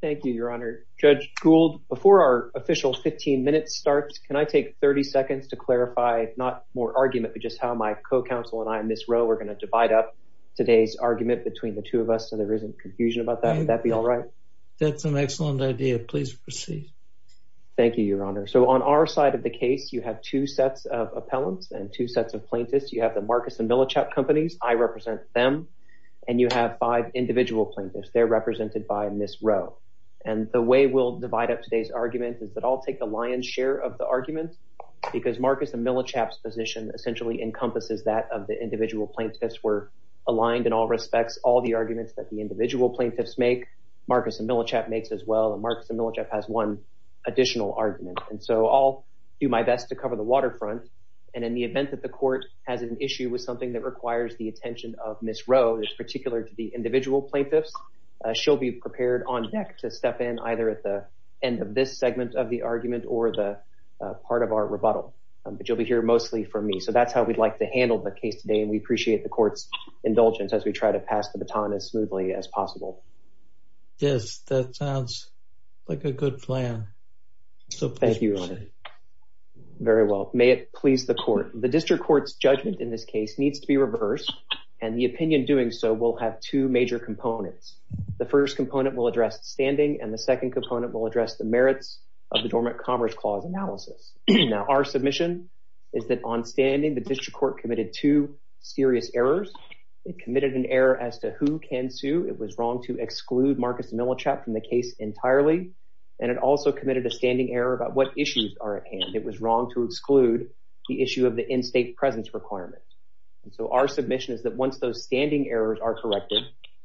Thank you, Your Honor. Judge Gould, before our official 15 minutes starts, can I take 30 seconds to clarify, not more argument, but just how my co-counsel and I, Ms. Rowe, are going to divide up today's argument between the two of us so there isn't confusion about that. Would that be all right? That's an excellent idea. Please proceed. Thank you, Your Honor. So on our side of the case, you have two sets of appellants and two sets of plaintiffs. You have the Marcus & Millichap companies. I represent them. And you have five individual plaintiffs. They're represented by Ms. Rowe. And the way we'll divide up today's argument is that I'll take a lion's share of the argument because Marcus & Millichap's position essentially encompasses that of the individual plaintiffs were aligned in all respects, all the arguments that the individual plaintiffs make, Marcus & Millichap makes as well, and Marcus & Millichap has one additional argument. And so I'll do my best to cover the waterfront. And in the event that the court has an issue with something that requires the attention of Ms. Rowe, in particular to the individual plaintiffs, she'll be prepared on deck to step in either at the end of this segment of the argument or the part of our rebuttal. But you'll be here mostly for me. So that's how we'd like to handle the case today. And we appreciate the court's indulgence as we try to pass the baton as smoothly as possible. Yes, that sounds like a good plan. So please proceed. Thank you, Your Honor. Very well. May it please the court. The district court's judgment in this case needs to be reversed and the opinion doing so will have two major components. The first component will address standing and the second component will address the merits of the Dormant Commerce Clause analysis. Now, our submission is that on standing, the district court committed two serious errors. It committed an error as to who can sue. It was wrong to exclude Marcus & Millichap from the case entirely. And it also committed a standing error about what issues are at hand. It was wrong to exclude the issue of the in-state presence requirement. And so our submission is that once those standing errors are corrected,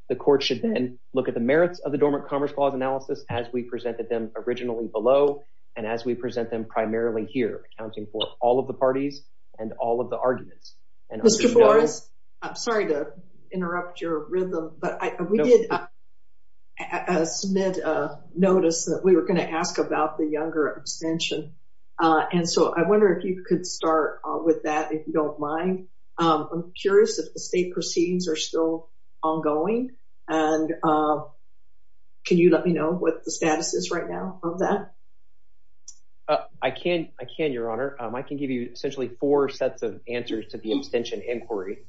the court should then look at the merits of the Dormant Commerce Clause analysis as we presented them originally below and as we present them primarily here, accounting for all of the parties and all of the arguments. Mr. Forrest, I'm sorry to interrupt your rhythm, but we did submit a notice that we were going to ask about the younger abstention. And so I wonder if you could start with that, if you don't mind. I'm curious if the state proceedings are still ongoing and can you let me know what the status is right now of that? I can, Your Honor. I can give you essentially four sets of answers to the abstention inquiry.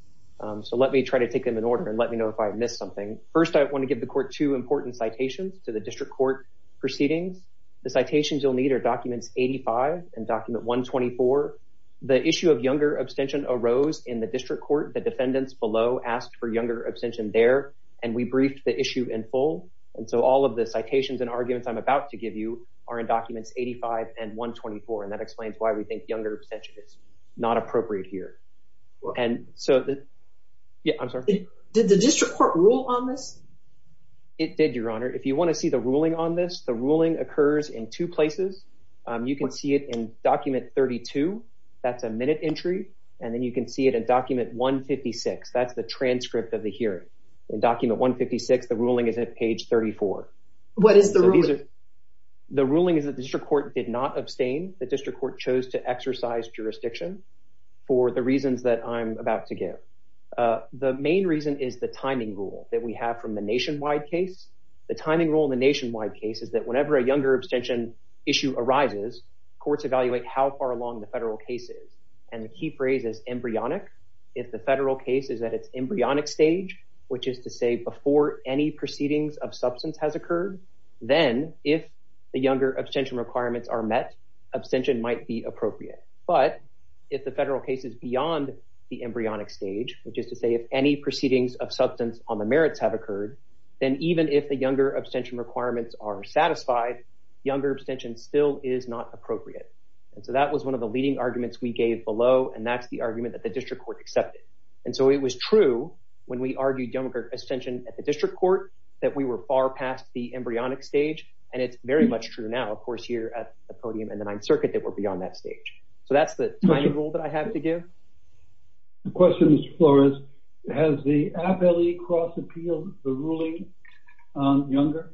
So let me try to take them in order and let me know if I missed something. First, I want to give the court two important citations to the district court proceedings. The citations you'll need are documents 85 and document 124. The issue of younger abstention arose in the district court. The defendants below asked for younger abstention there and we briefed the issue in full. And so all of the citations and arguments I'm about to give you are in documents 85 and 124. And that Yeah, I'm sorry. Did the district court rule on this? It did, Your Honor. If you want to see the ruling on this, the ruling occurs in two places. You can see it in document 32. That's a minute entry. And then you can see it in document 156. That's the transcript of the hearing. In document 156, the ruling is at page 34. What is the ruling? The ruling is that the district court did not abstain. The district court chose to exercise jurisdiction for the reasons that I'm about to give. The main reason is the timing rule that we have from the nationwide case. The timing rule in the nationwide case is that whenever a younger abstention issue arises, courts evaluate how far along the federal case is. And the key phrase is embryonic. If the federal case is at its embryonic stage, which is to say before any proceedings of substance has occurred, then if the younger abstention requirements are met, abstention might be appropriate. But if the federal case is beyond the embryonic stage, which is to say if any proceedings of substance on the merits have occurred, then even if the younger abstention requirements are satisfied, younger abstention still is not appropriate. And so that was one of the leading arguments we gave below. And that's the argument that the district court accepted. And so it was true when we argued younger abstention at the district court that we were far past the embryonic stage. And it's very much true now, of course, at the podium and the Ninth Circuit that we're beyond that stage. So that's the timing rule that I have to give. The question is, Flores, has the Appellee Cross appealed the ruling on younger?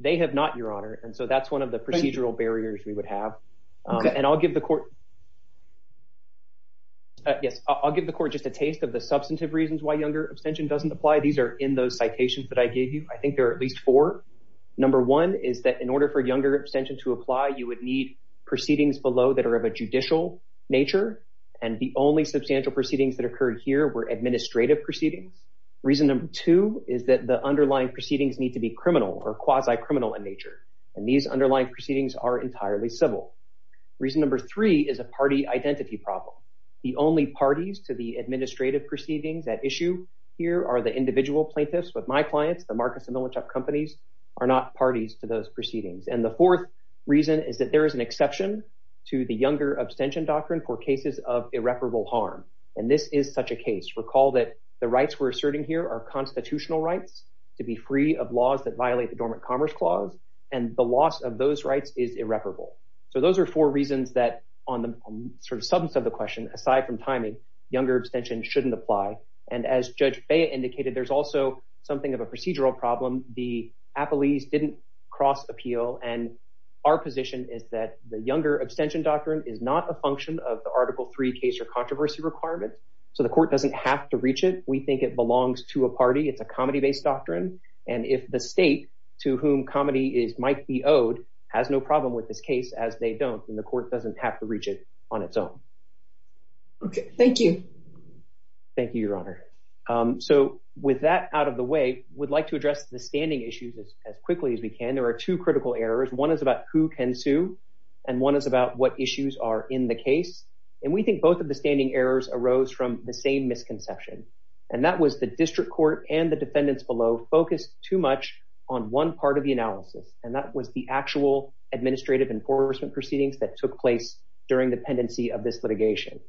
They have not, Your Honor. And so that's one of the procedural barriers we would have. And I'll give the court just a taste of the substantive reasons why younger abstention doesn't apply. These are in those citations that I gave you. I think there are four. Number one is that in order for younger abstention to apply, you would need proceedings below that are of a judicial nature. And the only substantial proceedings that occurred here were administrative proceedings. Reason number two is that the underlying proceedings need to be criminal or quasi-criminal in nature. And these underlying proceedings are entirely civil. Reason number three is a party identity problem. The only parties to the administrative proceedings at issue here are the individual plaintiffs. But my clients, the Marcus and Millichap companies, are not parties to those proceedings. And the fourth reason is that there is an exception to the younger abstention doctrine for cases of irreparable harm. And this is such a case. Recall that the rights we're asserting here are constitutional rights to be free of laws that violate the Dormant Commerce Clause. And the loss of those rights is irreparable. So those are four reasons that on the sort of substance of the question, aside from timing, younger abstention shouldn't apply. And as Judge Bea indicated, there's also something of a procedural problem. The appellees didn't cross appeal. And our position is that the younger abstention doctrine is not a function of the Article III case or controversy requirement. So the court doesn't have to reach it. We think it belongs to a party. It's a comedy-based doctrine. And if the state to whom comedy might be owed has no problem with this case as they don't, the court doesn't have to reach it on its own. Okay. Thank you. Thank you, Your Honor. So with that out of the way, we'd like to address the standing issues as quickly as we can. There are two critical errors. One is about who can sue. And one is about what issues are in the case. And we think both of the standing errors arose from the same misconception. And that was the district court and the defendants below focused too much on one part of the analysis. And that was the actual administrative enforcement proceedings that took place during the pendency of this litigation.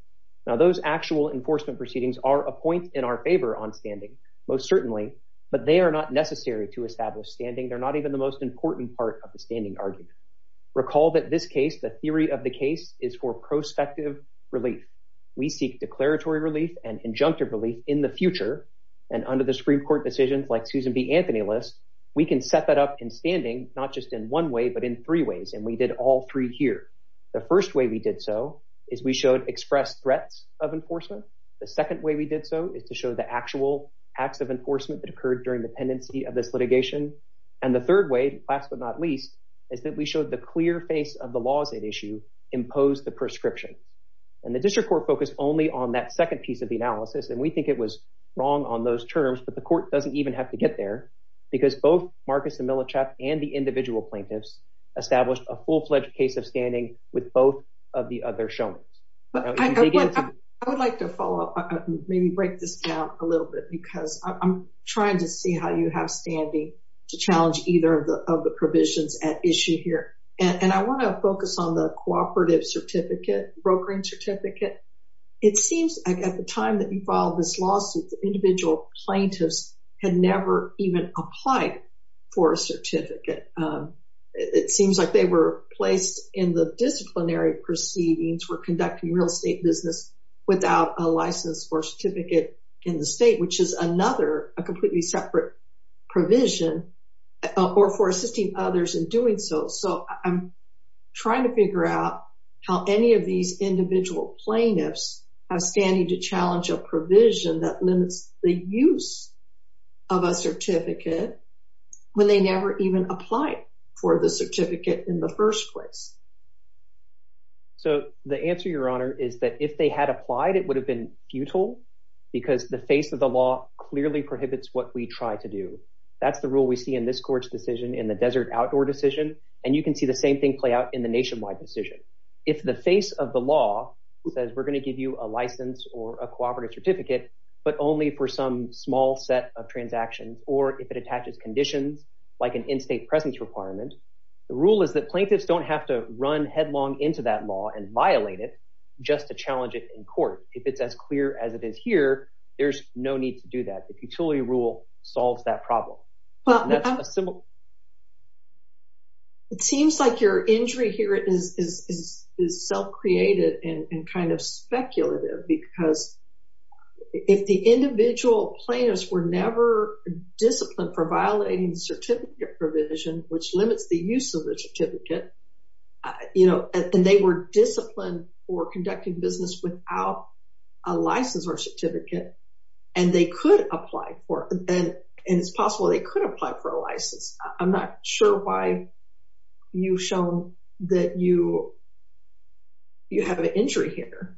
Now, those actual enforcement proceedings are a point in our favor on standing, most certainly. But they are not necessary to establish standing. They're not even the most important part of the standing argument. Recall that this case, the theory of the case, is for prospective relief. We seek declaratory relief and injunctive relief in the future. And under the Supreme Court decisions like Susan B. Anthony lists, we can set that up in standing, not just in one way, but in three ways. And we did all three here. The first way we did so is we showed express threats of enforcement. The second way we did so is to show the actual acts of enforcement that occurred during the pendency of this litigation. And the third way, last but not least, is that we showed the clear face of the lawsuit issue imposed the prescription. And the district court focused only on that second piece of the analysis. And we think it was wrong on those terms, but the court doesn't even have to get there because both Marcus and Milosevic and the individual plaintiffs established a full-fledged case of standing with both of the other showmen. I would like to follow up, maybe break this down a little bit because I'm trying to see how you have standing to challenge either of the provisions at issue here. And I want to focus on the cooperative certificate, brokering certificate. It seems like at the time that you filed this lawsuit, the individual plaintiffs had never even applied for a certificate. It seems like they were placed in the disciplinary proceedings, were conducting real estate business without a license or certificate in the state, which is another, a completely separate provision or for assisting others in doing so. So I'm trying to have standing to challenge a provision that limits the use of a certificate when they never even applied for the certificate in the first place. So the answer, your honor, is that if they had applied, it would have been futile because the face of the law clearly prohibits what we try to do. That's the rule we see in this court's decision in the desert outdoor decision. And you can see the same thing out in the nationwide decision. If the face of the law says, we're going to give you a license or a cooperative certificate, but only for some small set of transactions, or if it attaches conditions like an in-state presence requirement, the rule is that plaintiffs don't have to run headlong into that law and violate it just to challenge it in court. If it's as clear as it is here, there's no need to do that. The peculiar rule solves that problem. Well, that's a simple. It seems like your injury here is self-created and kind of speculative because if the individual plaintiffs were never disciplined for violating the certificate provision, which limits the use of the certificate, you know, and they were disciplined for conducting business without a license or certificate, and they could apply for it, and it's possible they could apply for a license. I'm not sure why you've shown that you have an injury here.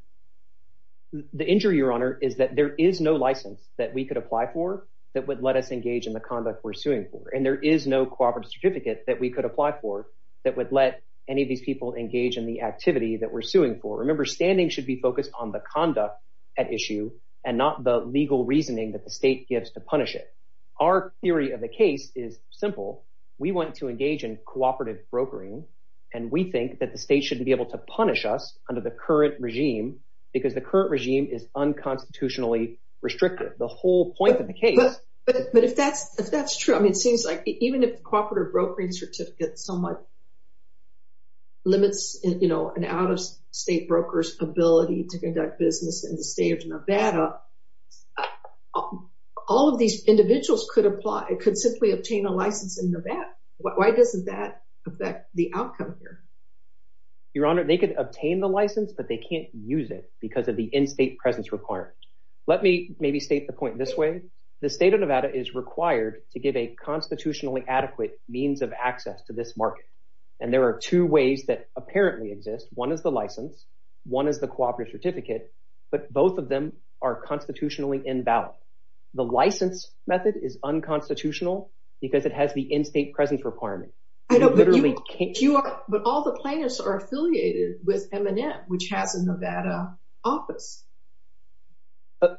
The injury, Your Honor, is that there is no license that we could apply for that would let us engage in the conduct we're suing for. And there is no cooperative certificate that we could apply for that would let any of these people engage in the activity that we're suing for. Remember, standing should be focused on the conduct at issue and not the legal reasoning that the state gives to punish it. Our theory of the case is simple. We want to engage in cooperative brokering, and we think that the state should be able to punish us under the current regime because the current regime is unconstitutionally restrictive. The whole point of the case... But if that's true, I mean, it seems like even if the cooperative brokering certificate somewhat limits, you know, an out-of-state broker's ability to conduct business in the state of Nevada, all of these individuals could simply obtain a license in Nevada. Why doesn't that affect the outcome here? Your Honor, they could obtain the license, but they can't use it because of the in-state presence requirement. Let me maybe state the point this way. The state of Nevada is required to give a constitutionally adequate means of access to this market, and there are two ways that apparently exist. One is the license. One is the cooperative certificate, but both of them are constitutionally invalid. The license method is unconstitutional because it has the in-state presence requirement. But all the plaintiffs are affiliated with MNM, which has a Nevada office.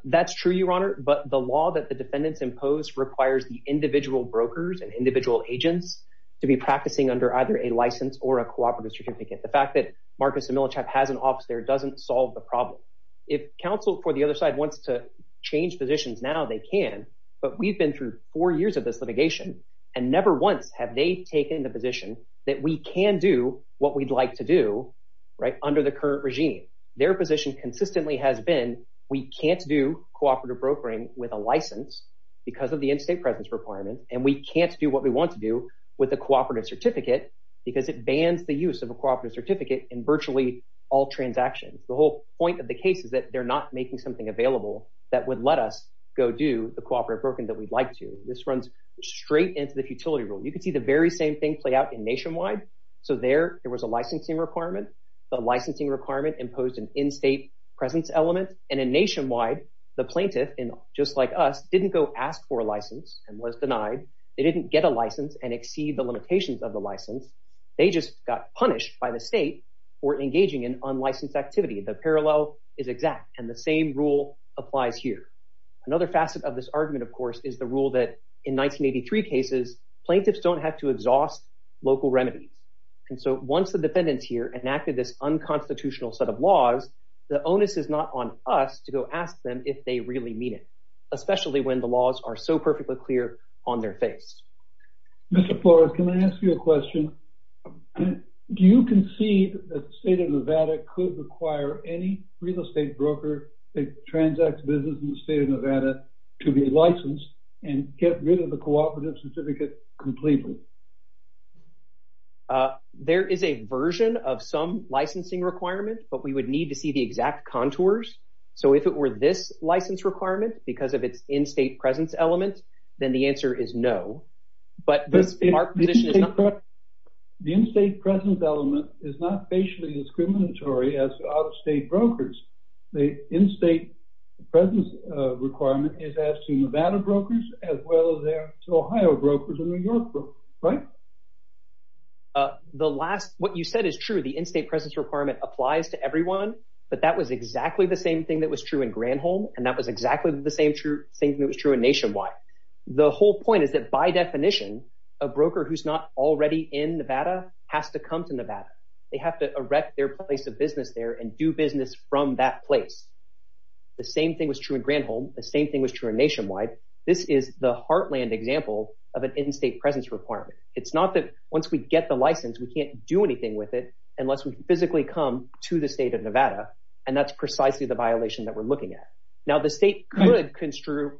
That's true, Your Honor, but the law that the defendants impose requires the individual brokers and individual agents to be practicing under either a license or a cooperative certificate. The fact that Marcus Emilichap has an office there doesn't solve the problem. If counsel for the other side wants to change positions now, they can, but we've been through four years of this litigation, and never once have they taken the position that we can do what we'd like to do under the current regime. Their position consistently has been we can't do cooperative brokering with a license because of the in-state presence requirement, and we can't do what we want to do with the cooperative certificate because it bans the use of a cooperative certificate in virtually all transactions. The whole point of the case is that they're not making something available that would let us go do the cooperative brokering that we'd like to. This runs straight into the futility rule. You can see the very same thing play out in Nationwide. So there, there was a licensing requirement. The licensing requirement imposed an in-state presence element, and in Nationwide, the plaintiff, just like us, didn't go ask for a license and was denied. They didn't get a license and exceed the limitations of the license. They just got punished by the state for engaging in unlicensed activity. The parallel is exact, and the same rule applies here. Another facet of this argument, of course, is the rule that in 1983 cases, plaintiffs don't have to exhaust local remedies, and so once the defendants here enacted this unconstitutional set of laws, the onus is not on us to go ask them if they really mean it, especially when the laws are so perfectly clear on their face. Mr. Flores, can I ask you a Do you concede that the state of Nevada could require any real estate broker that transacts business in the state of Nevada to be licensed and get rid of the cooperative certificate completely? There is a version of some licensing requirement, but we would need to see the exact contours. So if it were this license requirement because of its in-state presence element, then the answer is no. The in-state presence element is not facially discriminatory as to out-of-state brokers. The in-state presence requirement is asked to Nevada brokers as well as to Ohio brokers and New York brokers, right? What you said is true. The in-state presence requirement applies to everyone, but that was exactly the same thing that was true in Granholm, and that was exactly the same thing that was true in Nationwide. The whole point is that by definition, a broker who's not already in Nevada has to come to Nevada. They have to erect their place of business there and do business from that place. The same thing was true in Granholm. The same thing was true in Nationwide. This is the heartland example of an in-state presence requirement. It's not that once we get the license, we can't do anything with it unless we physically come to the state of Nevada, and that's precisely the violation that we're looking at. Now, the state could construe...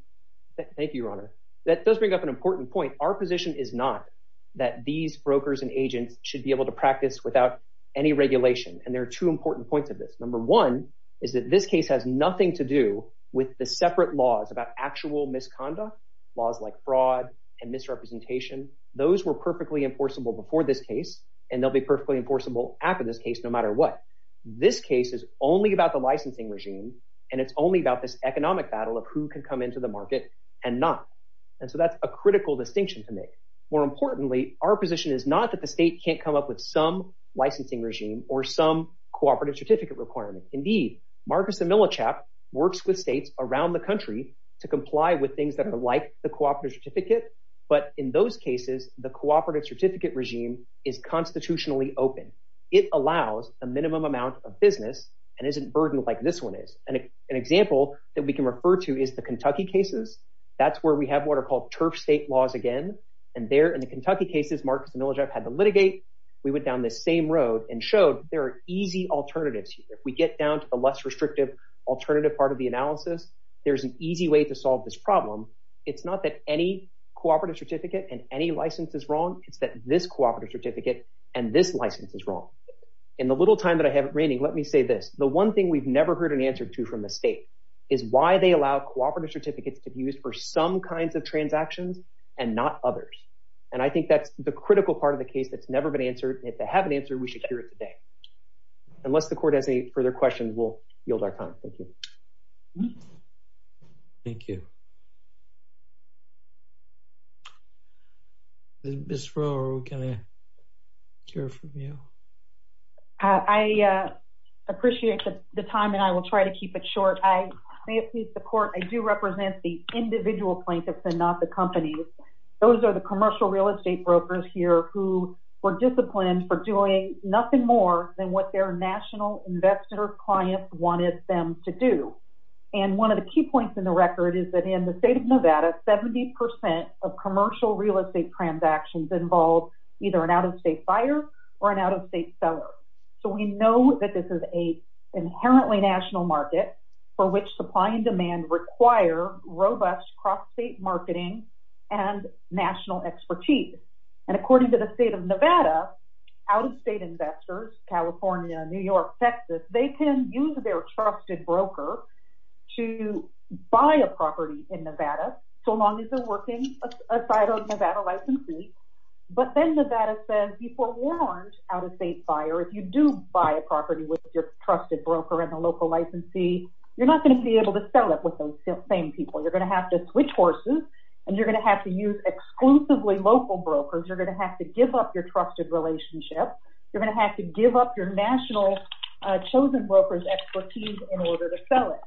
Thank you, Your Honor. That does bring up an important point. Our position is not that these brokers and agents should be able to practice without any regulation, and there are two important points of this. Number one is that this case has nothing to do with the separate laws about actual misconduct, laws like fraud and misrepresentation. Those were perfectly enforceable before this case, and they'll be perfectly enforceable after this case, no matter what. This case is only about the licensing regime, and it's only about this economic battle of who can come into the market and not, and so that's a critical distinction to make. More importantly, our position is not that the state can't come up with some licensing regime or some cooperative certificate requirement. Indeed, Marcus and Milachap works with states around the country to comply with things that are like the cooperative certificate, but in those cases, the cooperative certificate regime is constitutionally open. It allows a minimum amount of business and isn't burdened like this one is. An example that we can refer to is the Kentucky cases. That's where we have what are called turf state laws again, and there in the Kentucky cases, Marcus and Milachap had to litigate. We went down this same road and showed there are easy alternatives. If we get down to the less restrictive alternative part of the analysis, there's an easy way to solve this problem. It's not that any cooperative certificate and any license is wrong. It's that this cooperative certificate and this license is wrong. In the little time that I have remaining, let me say this, the one thing we've never heard an answer to from the state is why they allow cooperative certificates to be used for some kinds of transactions and not others, and I think that's the critical part of the case that's never been answered, and if they have an answer, we should hear it today. Unless the court has any further questions, we'll yield our time. Thank you. Ms. Rowe, can I hear from you? I appreciate the time, and I will try to keep it short. I may have to use the court. I do represent the individual plaintiffs and not the companies. Those are the commercial real estate brokers here who were disciplined for doing nothing more than what their national investor or client wanted them to do, and one of the key points in the record is that in the state of Nevada, 70 percent of commercial real estate transactions involve either an out-of-state buyer or an out-of-state seller, so we know that this is an inherently national market for which supply and demand require robust cross-state marketing and national expertise, and according to the state of Nevada, out-of-state investors, California, New York, Texas, they can use their trusted broker to buy a property in Nevada so long as they're working aside of Nevada licensees, but then Nevada says before warrant out-of-state buyer, if you do buy a property with your trusted broker and the local licensee, you're not going to be able to sell it with those same people. You're going to have to switch horses, and you're going to have to use exclusively local brokers. You're going to have to give up your trusted relationship. You're going to have to give up your national chosen broker's expertise in order to sell it.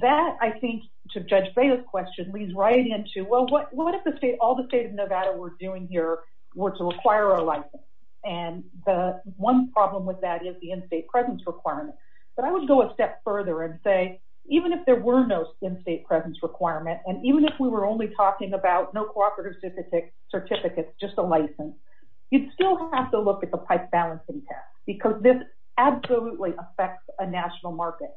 That, I think, to Judge Baya's question, leads right into, well, what if the state, all the state of Nevada were doing here were to require a license, and the one problem with that is the in-state presence requirement, but I would go a step further and say even if there were no in-state presence requirement and even if we were only talking about no cooperative certificates, just a license, you'd still have to look at the pipe balancing test because this absolutely affects a national market.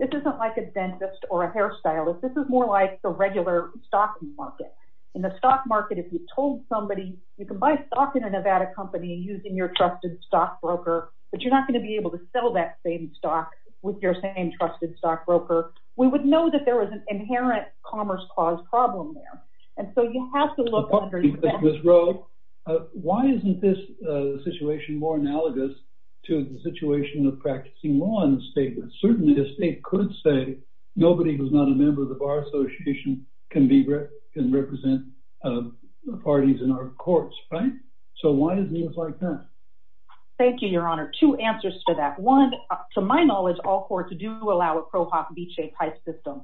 This isn't like a dentist or a hairstylist. This is more like the regular stock market. In the stock market, if you told somebody you can buy stock in a Nevada company using your trusted stock broker, but you're not going to be able to sell that same stock with your same trusted stock broker, we would know that there was an inherent commerce clause problem there, and so you have to look under that. Ms. Rowe, why isn't this situation more analogous to the situation of practicing law in the state? Certainly, the state could say nobody who's not a member of the Bar Association can represent parties in our courts, right? So why is it like that? Thank you, Your Honor. Two answers to that. One, to my knowledge, all courts do allow a ProHop Veche-type system,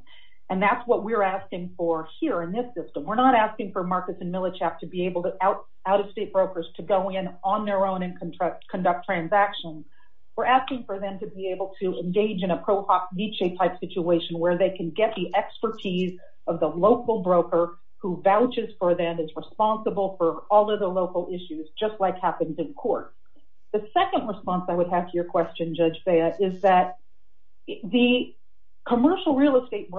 and that's what we're asking for here in this system. We're not asking for Marcus and Milichap to be able to, out-of-state brokers, to go in on their own and conduct transactions. We're asking for them to be able to engage in a ProHop Veche-type situation where they can get the expertise of the local broker who vouches for them, is responsible for all of the local issues, just like happens in court. The second response I would have to your question, Judge Bea, is that the commercial real estate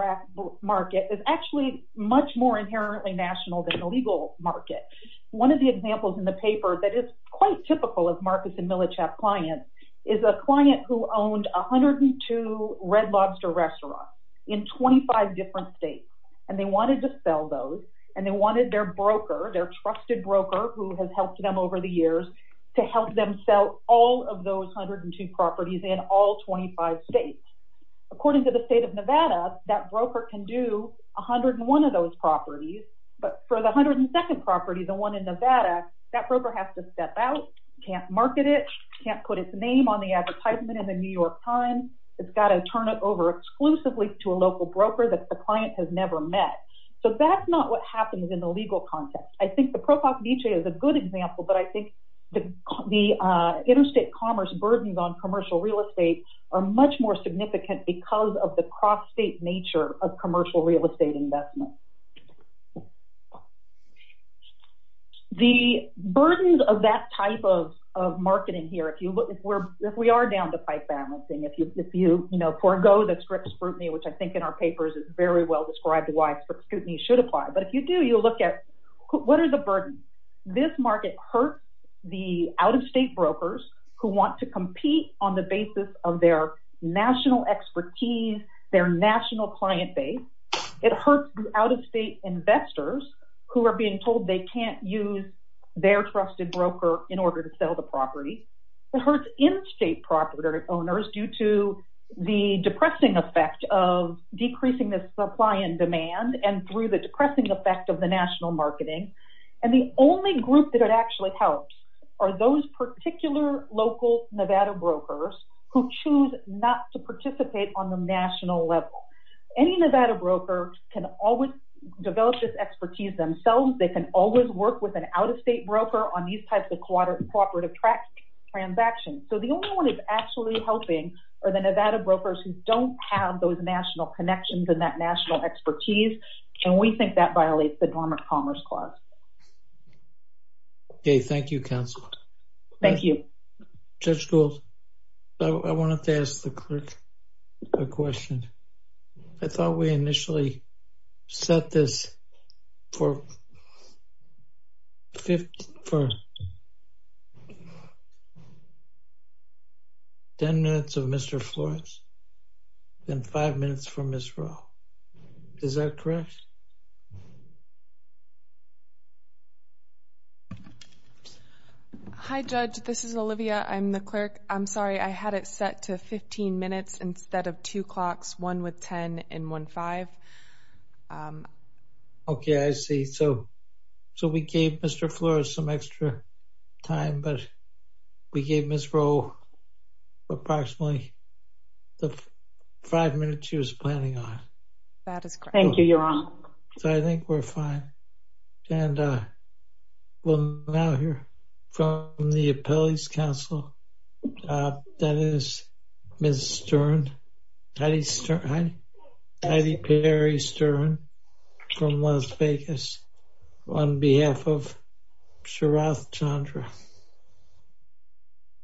market is actually much more inherently national than the legal market. One of the examples in the paper that is quite typical of Marcus and Milichap clients is a client who owned 102 Red Lobster restaurants in 25 different states, and they wanted to sell those, and they wanted their broker, their trusted broker who has helped them over the years, to help them sell all of those 102 properties in all 25 states. According to the state of Nevada, that broker can do 101 of those properties, but for the 102nd property, the one in Nevada, that broker has to step out, can't market it, can't put its name on the advertisement in the New York Times. It's got to turn it over exclusively to a local broker that the client has never met. So that's not what happens in the legal context. I think the ProHop is a good example, but I think the interstate commerce burdens on commercial real estate are much more significant because of the cross-state nature of commercial real estate investment. The burdens of that type of marketing here, if we are down to pipe balancing, if you forego the Scripps scrutiny, which I think in our papers is very well described why Scripps scrutiny should apply, but if you do, you'll look at what are the burdens. This market hurts the out-of-state brokers who want to compete on the basis of their national expertise, their national client base. It hurts the out-of-state investors who are being told they can't use their trusted broker in order to sell the property. It hurts in-state property owners due to the depressing effect of decreasing the supply and demand and through the depressing effect of the national marketing. And the only group that it actually helps are those particular local Nevada brokers who choose not to participate on the national level. Any Nevada broker can always develop this expertise themselves. They can always work with an out-of-state broker on these types of cooperative transactions. So the only one that's actually helping are the Nevada brokers who don't have those national connections and that national expertise, and we think that violates the Dormant Commerce Clause. Okay, thank you, counsel. Thank you. Judge Gould, I wanted to ask the clerk a question. I thought we initially set this for 10 minutes of Mr. Florence and five minutes for Ms. Rowe. Is that correct? Hi, Judge. This is Olivia. I'm the clerk. I'm sorry. I had it set to 15 minutes instead of some extra time, but we gave Ms. Rowe approximately the five minutes she was planning on. That is correct. Thank you, Your Honor. So I think we're fine. And we'll now hear from the judge.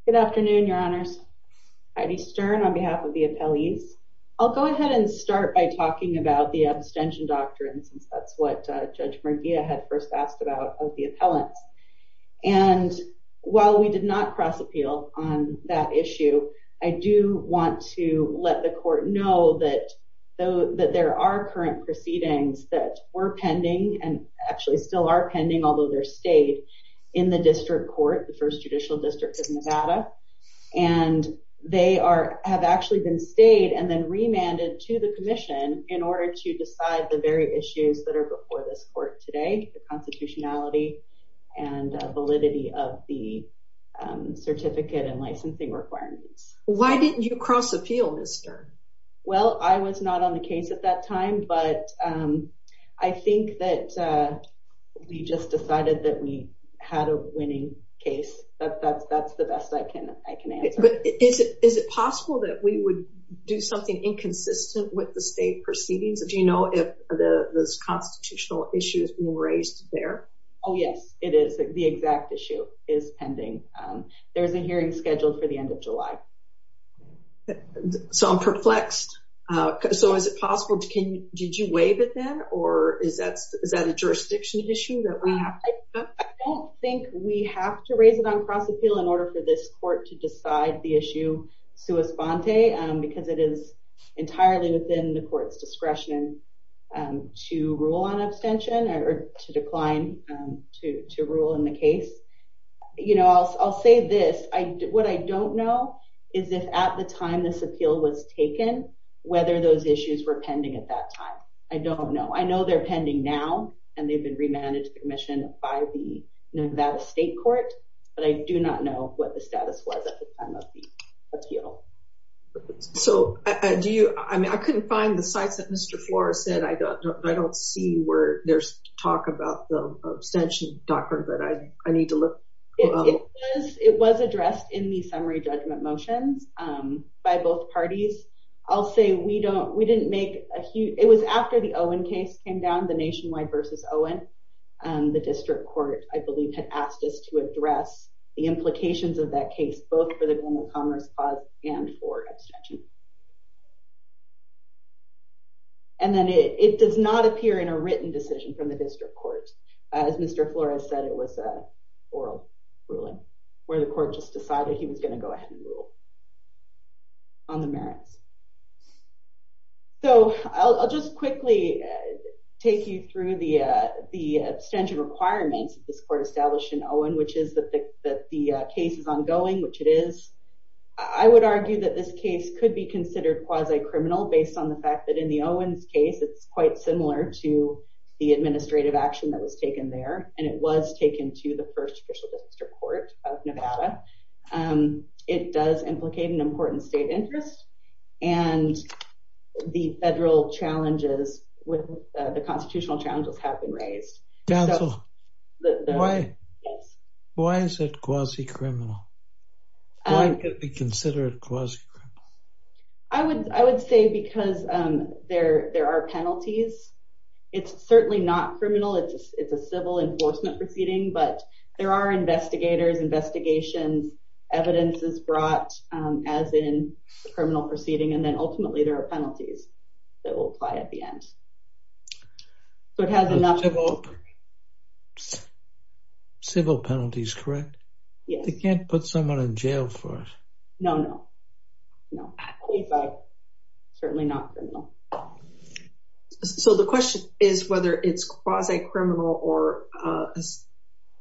Good afternoon, Your Honors. Heidi Stern on behalf of the appellees. I'll go ahead and start by talking about the abstention doctrine, since that's what Judge Murguia had first asked about of the appellants. And while we did not cross appeal on that issue, I do want to let the court know that there are current proceedings that were pending and actually still are pending, although they're stayed, in the district court, the First Judicial District of Nevada. And they have actually been stayed and then remanded to the commission in order to decide the very issues that are before this court today, the constitutionality and validity of the certificate and licensing requirements. Why didn't you cross appeal, Ms. Stern? Well, I was not on the case at that time, but I think that we just decided that we had a winning case. That's the best I can answer. But is it possible that we would do something inconsistent with the state proceedings? Do you know if the constitutional issue is being raised there? Oh, yes, it is. The exact issue is pending. There's a hearing scheduled for the end of July. Okay. So I'm perplexed. So is it possible? Did you waive it then? Or is that a jurisdiction issue that we have? I don't think we have to raise it on cross appeal in order for this court to decide the issue sua sponte because it is entirely within the court's discretion to rule on abstention or to decline to rule in the case. I'll say this. What I don't know is if at the time this appeal was taken, whether those issues were pending at that time. I don't know. I know they're pending now and they've been remanded to the commission by the Nevada State Court, but I do not know what the status was at the time of the appeal. So I couldn't find the sites that Mr. Flores said. I don't see where there's talk about the abstention doctrine, but I need to look. It was addressed in the summary judgment motions by both parties. I'll say we didn't make a huge, it was after the Owen case came down, the nationwide versus Owen. The district court, I believe, had asked us to address the implications of that case, both for the does not appear in a written decision from the district court. As Mr. Flores said, it was an oral ruling where the court just decided he was going to go ahead and rule on the merits. So I'll just quickly take you through the abstention requirements that this court established in Owen, which is that the case is ongoing, which it is. I would argue that this is quite similar to the administrative action that was taken there and it was taken to the first official district court of Nevada. It does implicate an important state interest and the federal challenges with the constitutional challenges have been raised. Why is it quasi-criminal? Why could it be considered quasi-criminal? I would say because there are penalties. It's certainly not criminal. It's a civil enforcement proceeding, but there are investigators, investigations, evidences brought as in the criminal proceeding, and then ultimately there are penalties that will apply at the end. Civil penalties, correct? Yes. Can't put someone in jail for it. No, no. Certainly not. So the question is whether it's quasi-criminal or is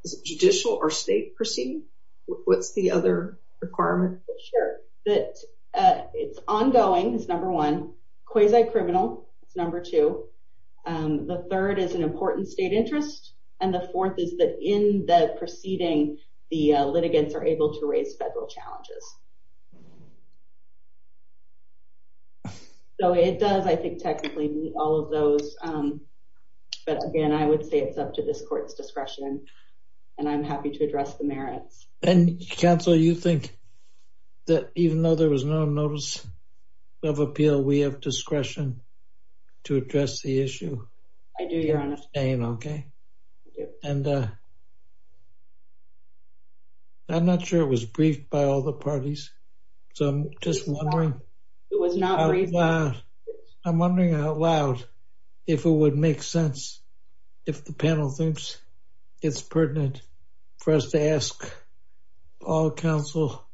it judicial or state proceeding? What's the other requirement? Sure, that it's ongoing is number one, quasi-criminal is number two. The third is an important state interest and the fourth is that in the proceeding, the litigants are able to raise federal challenges. So it does, I think, technically meet all of those, but again, I would say it's up to this court's discretion and I'm happy to address the merits. And counsel, you think that even though there was no notice of appeal, we have discretion to address the issue? I do, Your Honor. Okay. And I'm not sure it was briefed by all the parties, so I'm just wondering. It was not briefed. I'm wondering out loud if it would make sense if the panel thinks it's pertinent for us to ask all counsel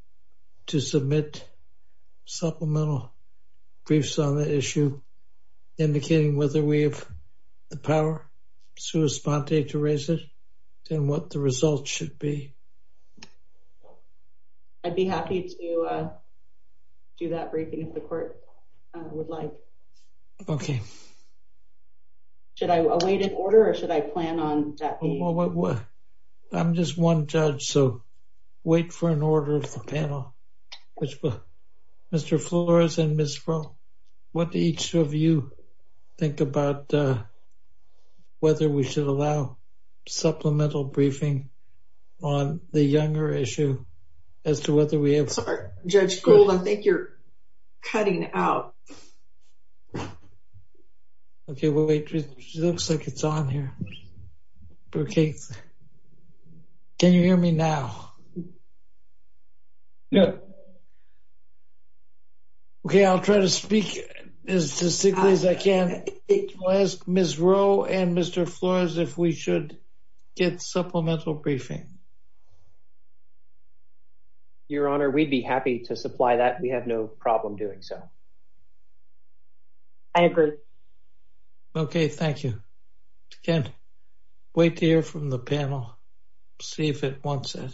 to submit supplemental briefs on the issue indicating whether we have the power sui sponte to raise it, then what the results should be. I'd be happy to do that briefing if the court would like. Okay. Should I await an order or should I plan on that? Well, I'm just one judge, so wait for an order of the panel. Mr. Flores and Ms. Froh, what do each of you think about whether we should allow supplemental briefing on the Younger issue as to whether we have... Sorry, Judge Gould, I think you're cutting out. Okay, well, wait. It looks like it's on here. Okay. Can you hear me now? No. Okay, I'll try to speak as distinctly as I can. I'll ask Ms. Froh and Mr. Flores if we should get supplemental briefing. Your Honor, we'd be happy to supply that. We have no problem doing so. I agree. Okay, thank you. Again, wait to hear from the panel, see if it wants it.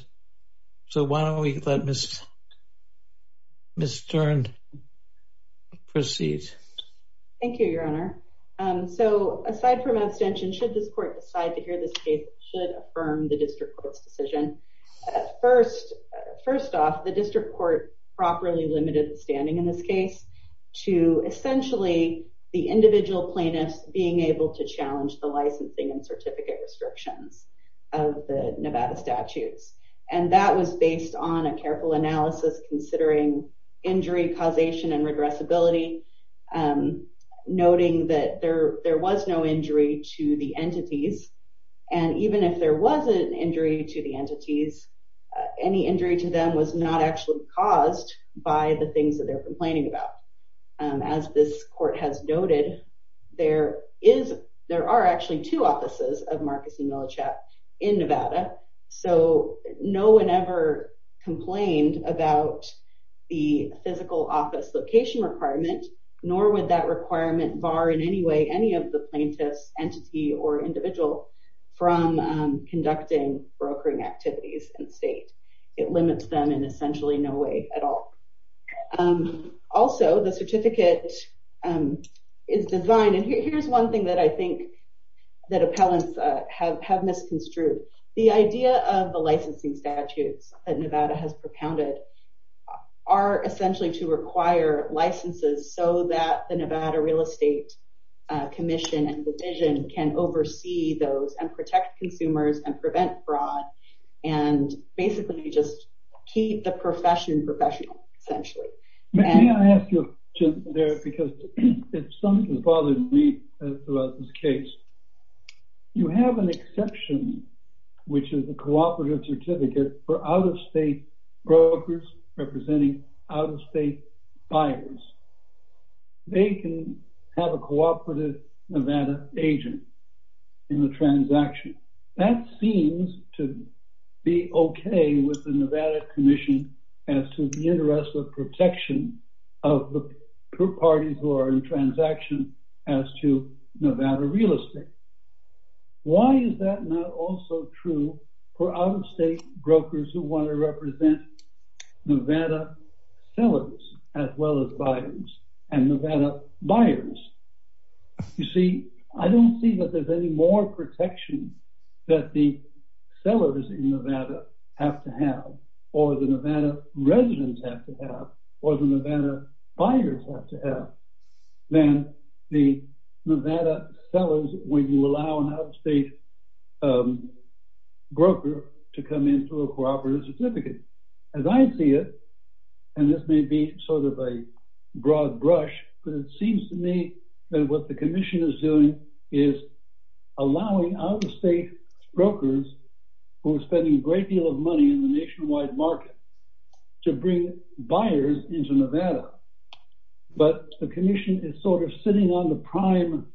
So why don't we let Ms. Stern proceed. Thank you, Your Honor. So aside from abstention, should this court decide to hear this case, it should affirm the district court's decision. First off, the district court properly limited standing in this case to essentially the individual plaintiffs being able to challenge the licensing and certificate restrictions of the Nevada statutes. And that was based on a careful analysis considering injury causation and regressibility, noting that there was no injury to the entities. And even if there was an injury to the entities, any injury to them was not actually caused by the things that they're complaining about. As this court has noted, there are actually two offices of Marcus and Millichap in Nevada, so no one ever complained about the physical office location requirement, nor would that requirement bar in any way any of the plaintiffs, entity, or individual from conducting brokering activities in the state. It limits them in essentially no way at all. Also, the certificate is designed, and here's one thing that I think that appellants have misconstrued. The idea of the licensing statutes that Nevada has propounded are essentially to require licenses so that the Nevada Real Estate Commission and Division can oversee those and protect consumers and prevent fraud, and basically just keep the profession professional, essentially. May I ask you a question there, because something has bothered me throughout this case. You have an exception, which is a cooperative certificate for out-of-state brokers representing out-of-state buyers. They can have a cooperative Nevada agent in the transaction. That seems to be okay with the Nevada Commission as to the interest of protection of the parties who are in transaction as to Nevada Real Estate. Why is that not also true for out-of-state brokers who want to represent Nevada sellers as well as buyers and Nevada buyers? You see, I don't see that there's any more protection that the sellers in Nevada have to have or the Nevada residents have to have or the Nevada buyers have to have than the Nevada sellers when you allow an out-of-state broker to come in through a cooperative certificate. As I see it, and this may be broad brush, but it seems to me that what the Commission is doing is allowing out-of-state brokers who are spending a great deal of money in the nationwide market to bring buyers into Nevada, but the Commission is sort of sitting on the prime,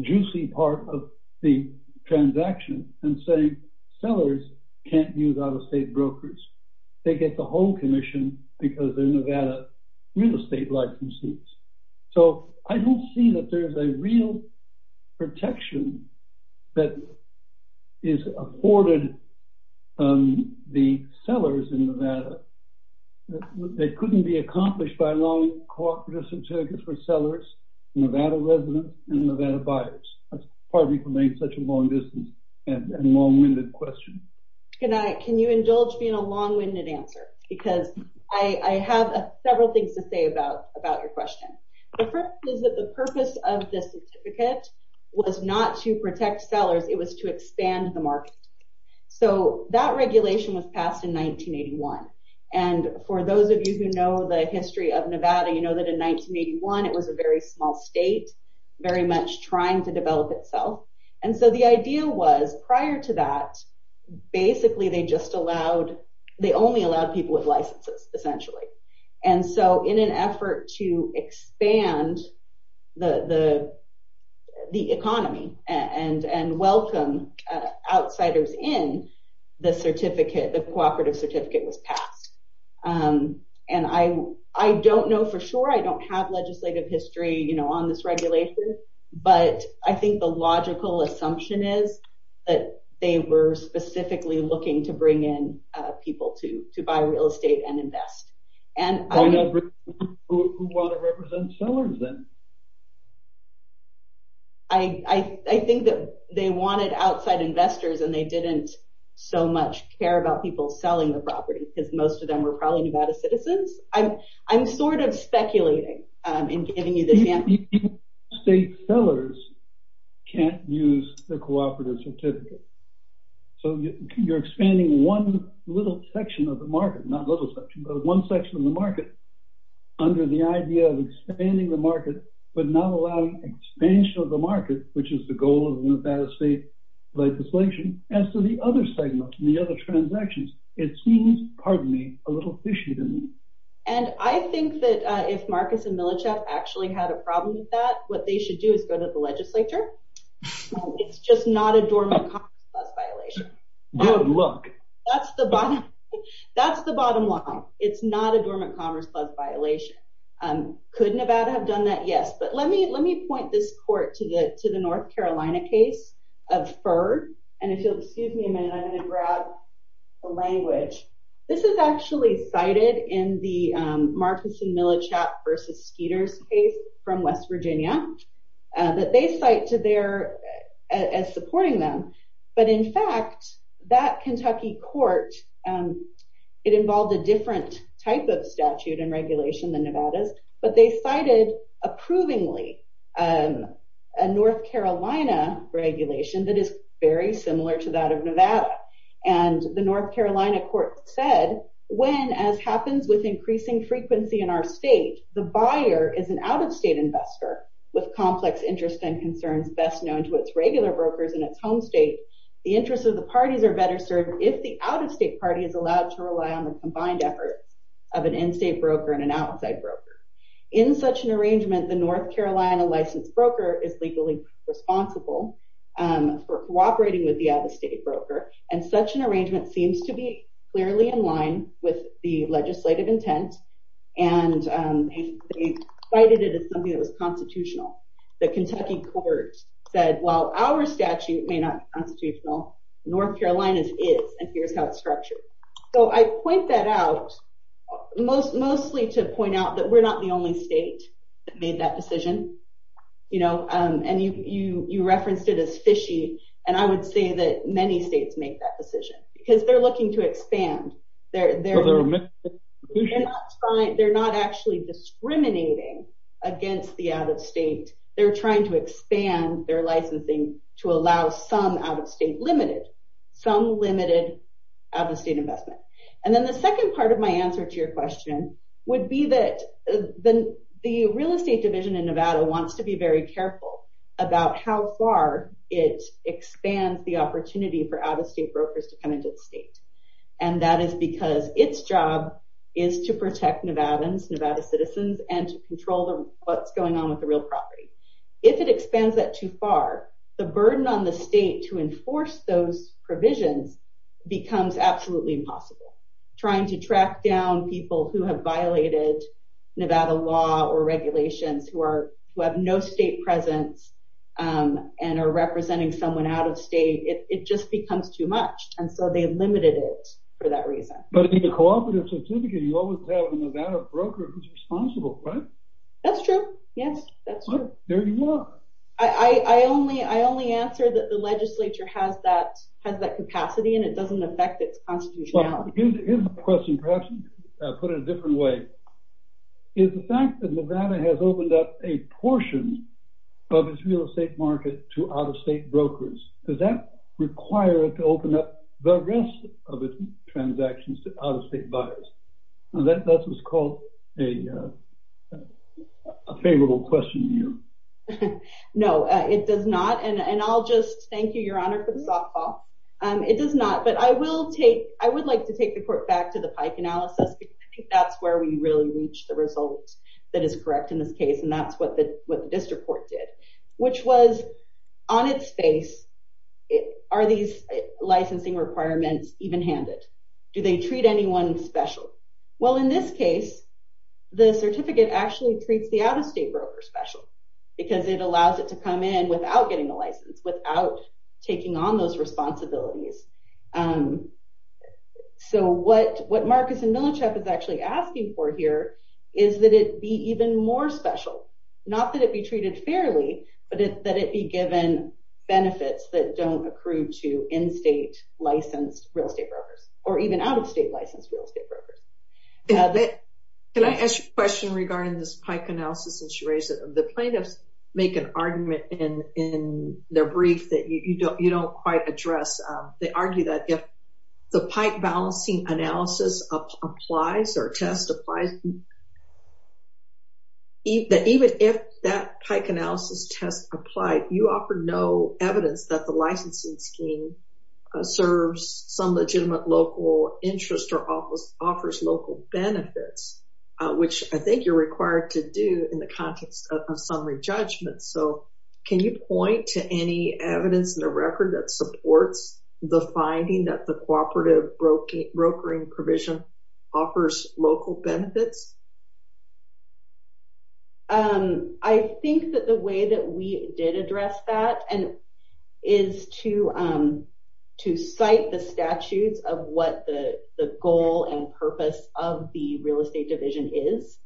juicy part of the transaction and saying sellers can't use out-of-state brokers. They get the whole real estate license. So, I don't see that there's a real protection that is afforded on the sellers in Nevada. They couldn't be accomplished by a long cooperative certificate for sellers, Nevada residents, and Nevada buyers. That's probably such a long-distance and long-winded question. Can you indulge me in a long-winded answer? Because I have several things to say about your question. The first is that the purpose of the certificate was not to protect sellers. It was to expand the market. So, that regulation was passed in 1981, and for those of you who know the history of Nevada, you know that in 1981, it was a very small state, very much trying to develop itself, and so the idea was prior to that, basically, they only allowed people with licenses, essentially. And so, in an effort to expand the economy and welcome outsiders in, the cooperative certificate was passed. And I don't know for sure. I don't have legislative history on this regulation, but I think the logical assumption is that they were specifically looking to bring in people to buy real estate and invest. Who wanted to represent sellers then? I think that they wanted outside investors, and they didn't so much care about people selling the property because most of them were probably Nevada citizens. I'm sort of speculating in sellers can't use the cooperative certificate. So, you're expanding one little section of the market, not little section, but one section of the market under the idea of expanding the market, but not allowing expansion of the market, which is the goal of the Nevada state legislation, as to the other segment, the other transactions. It seems, pardon me, a little fishy to me. And I think that if Marcus and Milosev actually had a problem with that, what they should do is go to the legislature. It's just not a dormant commerce clause violation. Good luck. That's the bottom line. It's not a dormant commerce clause violation. Could Nevada have done that? Yes. But let me point this court to the North Carolina case of FURD. And if you'll excuse me Marcus and Milosev versus Skeeter's case from West Virginia that they cite as supporting them. But in fact, that Kentucky court, it involved a different type of statute and regulation than Nevada's, but they cited approvingly a North Carolina regulation that is very similar to that of Nevada. And the North Carolina court said, when as happens with increasing frequency in our state, the buyer is an out-of-state investor with complex interests and concerns best known to its regular brokers in its home state. The interests of the parties are better served if the out-of-state party is allowed to rely on the combined efforts of an in-state broker and an outside broker. In such an arrangement, the North Carolina licensed broker is legally responsible for cooperating with the out-of-state broker. And such an arrangement seems to be clearly in line with the legislative intent. And they cited it as something that was constitutional. The Kentucky court said, while our statute may not be constitutional, North Carolina's is and here's how it's structured. So I point that out mostly to point out that we're not the only state that made that decision. And you referenced it as fishy. And I would say that many states make that decision because they're looking to expand. They're not actually discriminating against the out-of-state. They're trying to expand their licensing to allow some out-of-state limited, some limited out-of-state investment. And then the second part of my answer to your real estate division in Nevada wants to be very careful about how far it expands the opportunity for out-of-state brokers to come into the state. And that is because its job is to protect Nevadans, Nevada citizens, and to control what's going on with the real property. If it expands that too far, the burden on the state to enforce those provisions becomes absolutely impossible. Trying to track down people who have violated Nevada law or regulations, who have no state presence and are representing someone out of state, it just becomes too much. And so they limited it for that reason. But in the cooperative certificate, you always have a Nevada broker who's responsible, right? That's true. Yes, that's true. There you are. I only answer that the legislature has that capacity and it doesn't affect its constitutionality. Here's a question, perhaps put in a different way. Is the fact that Nevada has opened up a portion of its real estate market to out-of-state brokers, does that require it to open up the rest of its transactions to out-of-state buyers? That's what's called a favorable question to you. No, it does not. And I'll just thank you, Your Honor, for the softball. It does not. But I would like to take the court back to the Pike analysis, because I think that's where we really reach the result that is correct in this case. And that's what the district court did, which was on its face, are these licensing requirements even handed? Do they treat anyone special? Well, in this case, the certificate actually treats the out-of-state broker special, because it allows it to come in without getting a license, without taking on those responsibilities. So what Marcus and Milichap is actually asking for here is that it be even more special. Not that it be treated fairly, but that it be given benefits that don't accrue to in-state licensed real estate brokers, or even out-of-state licensed real estate brokers. Can I ask you a question regarding this Pike analysis that you raised? The plaintiffs make an argument in their brief that you don't quite address. They argue that if the Pike balancing analysis applies or test applies, even if that Pike analysis test applied, you offer no evidence that the licensing scheme serves some legitimate local interest or offers local benefits, which I think you're required to in the context of summary judgment. So can you point to any evidence in the record that supports the finding that the cooperative brokering provision offers local benefits? I think that the way that we did address that is to cite the statutes of what the goal and purpose of the real estate division is,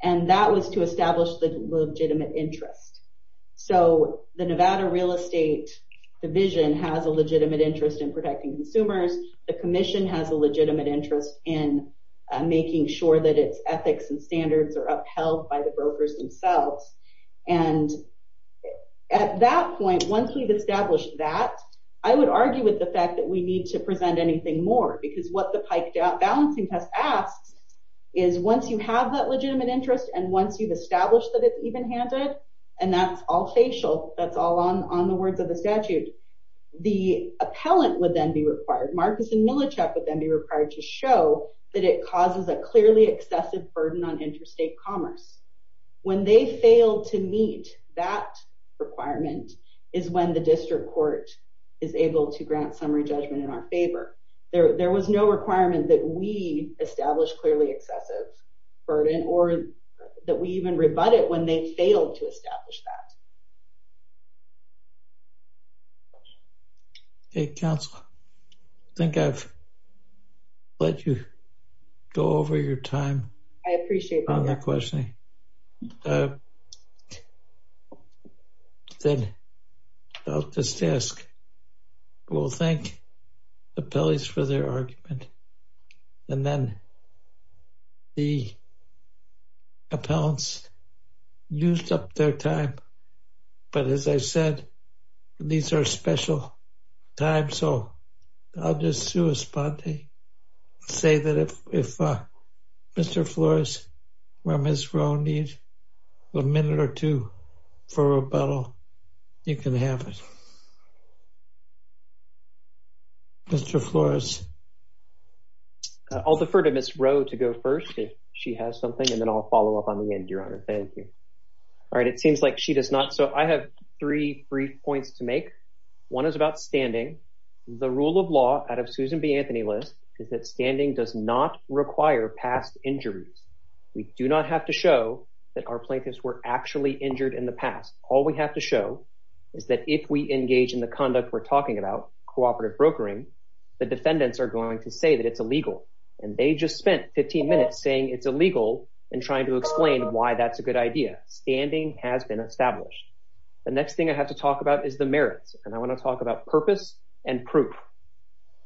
and that was to establish the legitimate interest. So the Nevada real estate division has a legitimate interest in protecting consumers. The commission has a legitimate interest in making sure that its ethics and standards are upheld by the brokers themselves. And at that point, once we've established that, I would argue with the is once you have that legitimate interest and once you've established that it's even-handed, and that's all facial, that's all on the words of the statute, the appellant would then be required. Marcus and Milicek would then be required to show that it causes a clearly excessive burden on interstate commerce. When they fail to meet that requirement is when the district court is able to grant summary judgment in our favor. There was no requirement that we establish clearly excessive burden or that we even rebut it when they failed to establish that. Okay, counsel. I think I've let you go over your time. I appreciate that. I'll just ask, we'll thank the appellees for their argument. And then the appellants used up their time. But as I said, these are special times. So I'll just say that if Mr. Flores or Ms. Rowe need a minute or two for rebuttal, you can have it. Mr. Flores. I'll defer to Ms. Rowe to go first if she has something, and then I'll follow up on the end, Your Honor. Thank you. All right. It seems like she does not. So I have three brief points to make. One is about standing. The rule of law out of Susan B. Anthony list is that standing does not require past injuries. We do not have to show that our plaintiffs were actually injured in the past. All we have to show is that if we engage in the conduct we're talking about, cooperative brokering, the defendants are going to say that it's illegal. And they just spent 15 minutes saying it's illegal and trying to explain why that's a good idea. Standing has been purpose and proof.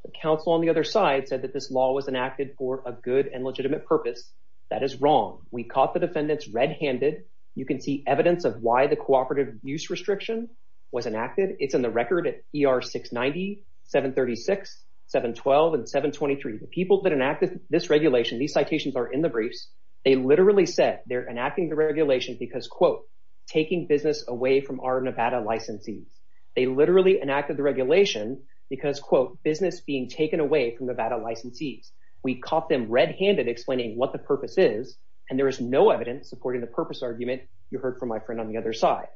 The counsel on the other side said that this law was enacted for a good and legitimate purpose. That is wrong. We caught the defendants red-handed. You can see evidence of why the cooperative use restriction was enacted. It's in the record at ER 690, 736, 712, and 723. The people that enacted this regulation, these citations are in the briefs. They literally said they're enacting the regulation because, quote, taking business away from our Nevada licensees. They literally enacted the regulation because, quote, business being taken away from Nevada licensees. We caught them red-handed explaining what the purpose is, and there is no evidence supporting the purpose argument you heard from my friend on the other side.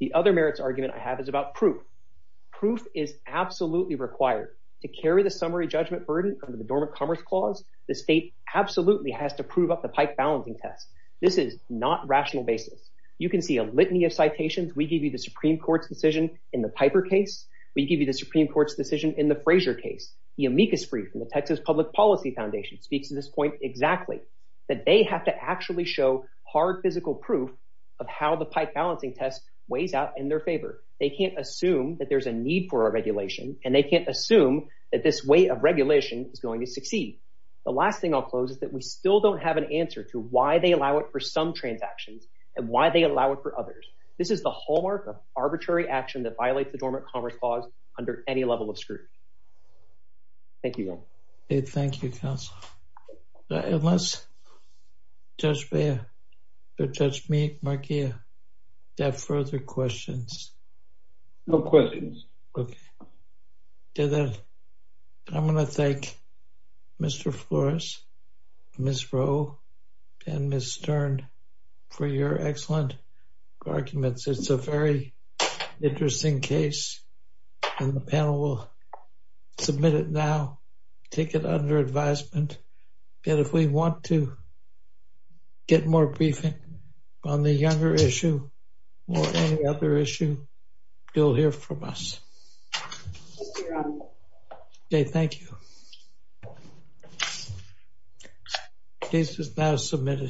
The other merits argument I have is about proof. Proof is absolutely required. To carry the summary judgment burden under the Dormant Commerce Clause, the state absolutely has to prove up the pike balancing test. This is not rational basis. You can see a litany of citations. We give you the Supreme Court's decision in the Piper case. We give you the Supreme Court's decision in the Frazier case. The amicus brief from the Texas Public Policy Foundation speaks to this point exactly, that they have to actually show hard physical proof of how the pike balancing test weighs out in their favor. They can't assume that there's a need for a regulation, and they can't assume that this way of regulation is going to succeed. The last thing I'll close is that we still don't have an answer to why they allow it for some transactions and why they allow it for others. This is the hallmark of arbitrary action that violates the Dormant Commerce Clause under any level of scrutiny. Thank you, Ron. Thank you, counsel. Unless Judge Bea, Judge Meek, Markia, have further questions? No questions. Okay. I'm going to thank Mr. Flores, Ms. Rowe, and Ms. Stern for your excellent arguments. It's a very interesting case, and the panel will submit it now, take it under advisement. If we want to get more briefing on the Younger issue or any other issue, you'll hear from us. Thank you, Ron. Okay, thank you. This is now submitted.